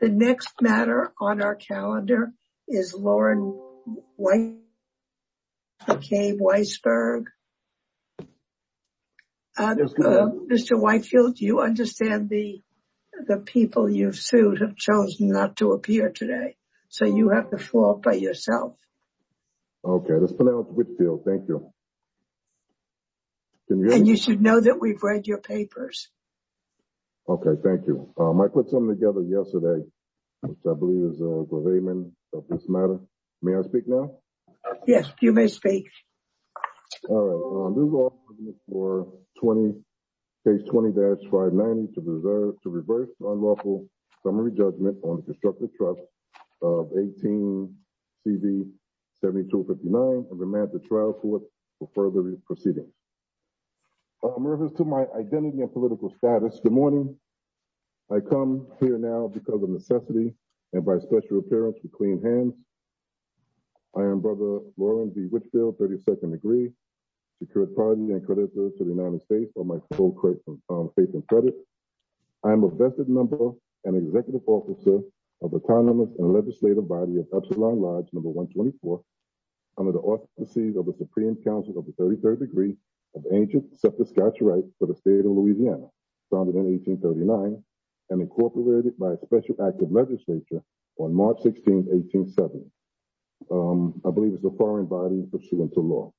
The next matter on our calendar is Lauren McCabe Weisberg. Mr. Whitefield, you understand the people you've sued have chosen not to appear today, so you have the floor by yourself. Okay, let's put it out to Whitfield. Thank you. And you should know that we've read your papers. Okay, thank you. I put something together yesterday, which I believe is the overlayment of this matter. May I speak now? Yes, you may speak. All right. This is all for case 20-590 to reverse the unlawful summary judgment on the constructive trust of 18CV7259 and remand the trial court for further proceedings. Reference to my identity and political status, good morning. I come here now because of necessity and by special appearance with clean hands. I am Brother Lauren B. Whitfield, 32nd degree, Secured Party and creditor to the United States on my full faith and credit. I am a vested member and executive officer of the Congress and legislative body of Epsilon Lodge No. 124, under the auspices of the Supreme Council of the 33rd degree of ancient Saskatchewan rights for the state of Louisiana, founded in 1839 and incorporated by a special act of legislature on March 16th, 1870. I believe it's a foreign body pursuant to law.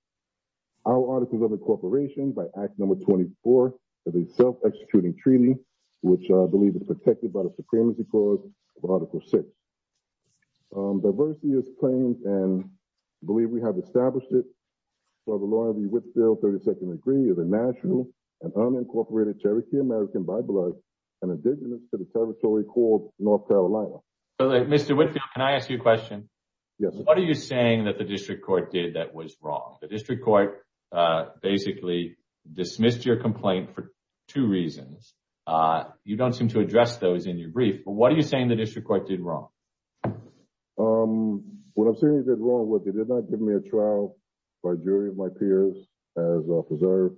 Our article of incorporation by Act No. 24 is a self-executing treaty, which I believe is protected by the established by Brother Lauren B. Whitfield, 32nd degree, is a national and unincorporated Cherokee-American biblical and indigenous to the territory called North Carolina. Mr. Whitfield, can I ask you a question? Yes. What are you saying that the district court did that was wrong? The district court basically dismissed your complaint for two reasons. You don't seem to address those in your brief, but what are you saying the district court did wrong? What I'm saying is wrong was they did not give me a trial by jury of my peers as a preserve,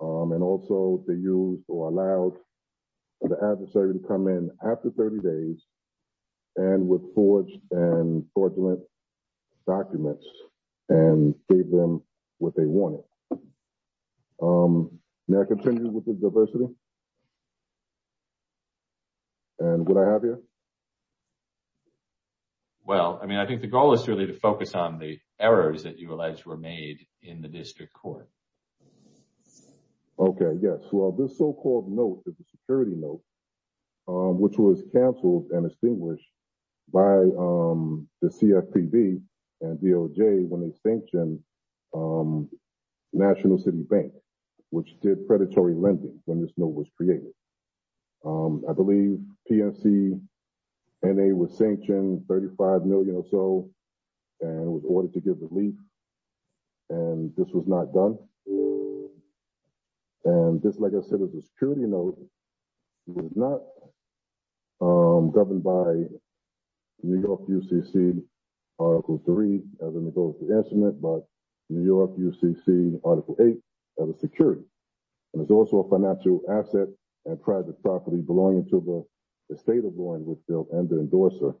and also they used or allowed the adversary to come in after 30 days and with forged and fraudulent documents and gave them what they wanted. May I continue with the diversity? And would I have here? Well, I mean, I think the goal is really to focus on the errors that you allege were made in the district court. Okay. Yes. Well, this so-called note is a security note, which was canceled and extinguished by the CFPB and DOJ when they sanctioned National City Bank, which did predatory lending when this note was created. I believe PNC and they were sanctioned 35 million or so, and it was ordered to give relief, and this was not done. And this, like I said, is a security note. It was not governed by New York UCC Article 3, as it goes to the instrument, but New York UCC Article 8 as a security. And it's also a financial asset and private property belonging to the state of Boeing, which they'll end the endorser.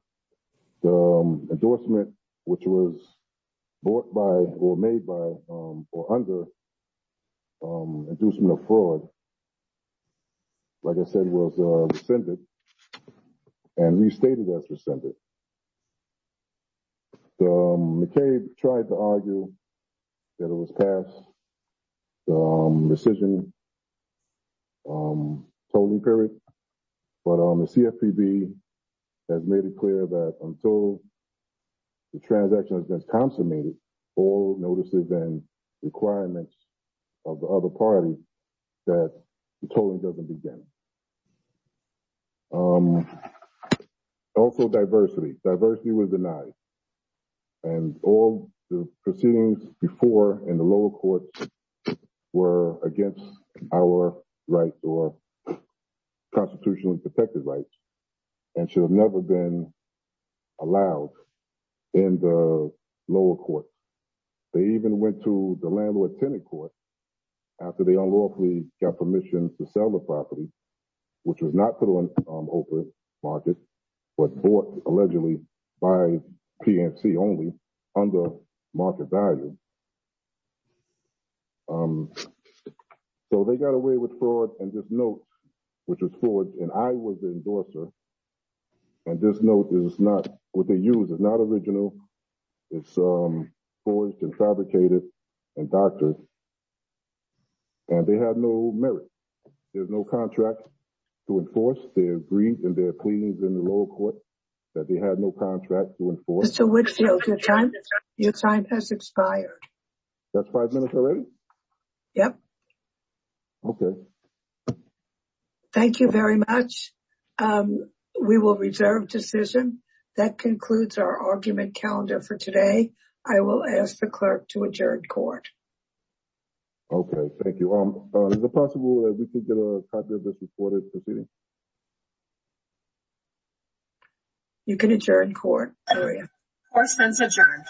The endorsement, which was bought by or made by or under inducement of fraud, like I said, was rescinded and restated as rescinded. McCabe tried to argue that it was past the rescission totaling period, but the CFPB has made it clear that until the transaction has been consummated, all notices and requirements of the other party that the totaling doesn't begin. Also, diversity. Diversity was denied, and all the proceedings before in the lower courts were against our rights or constitutionally protected rights and should have never been allowed in the lower court. They even went to the landlord-tenant court after they unlawfully got permission to sell the property, which was not put on open market, but bought allegedly by PNC only under market value. So they got away with fraud and this note, which was fraud, and I was the endorser, and this note is not what they used. It's not original. It's forged and fabricated and doctored, and they had no merit. There's no contract to enforce their greed and their pleas in the lower court that they had no contract to enforce. Mr. Whitfield, your time has expired. That's five minutes already? Yep. Okay. Thank you very much. We will reserve decision. That concludes our argument calendar for today. I will ask the clerk to adjourn court. Okay. Thank you. Is it possible that we could get a copy of this reported proceeding? You can adjourn court. Court is adjourned.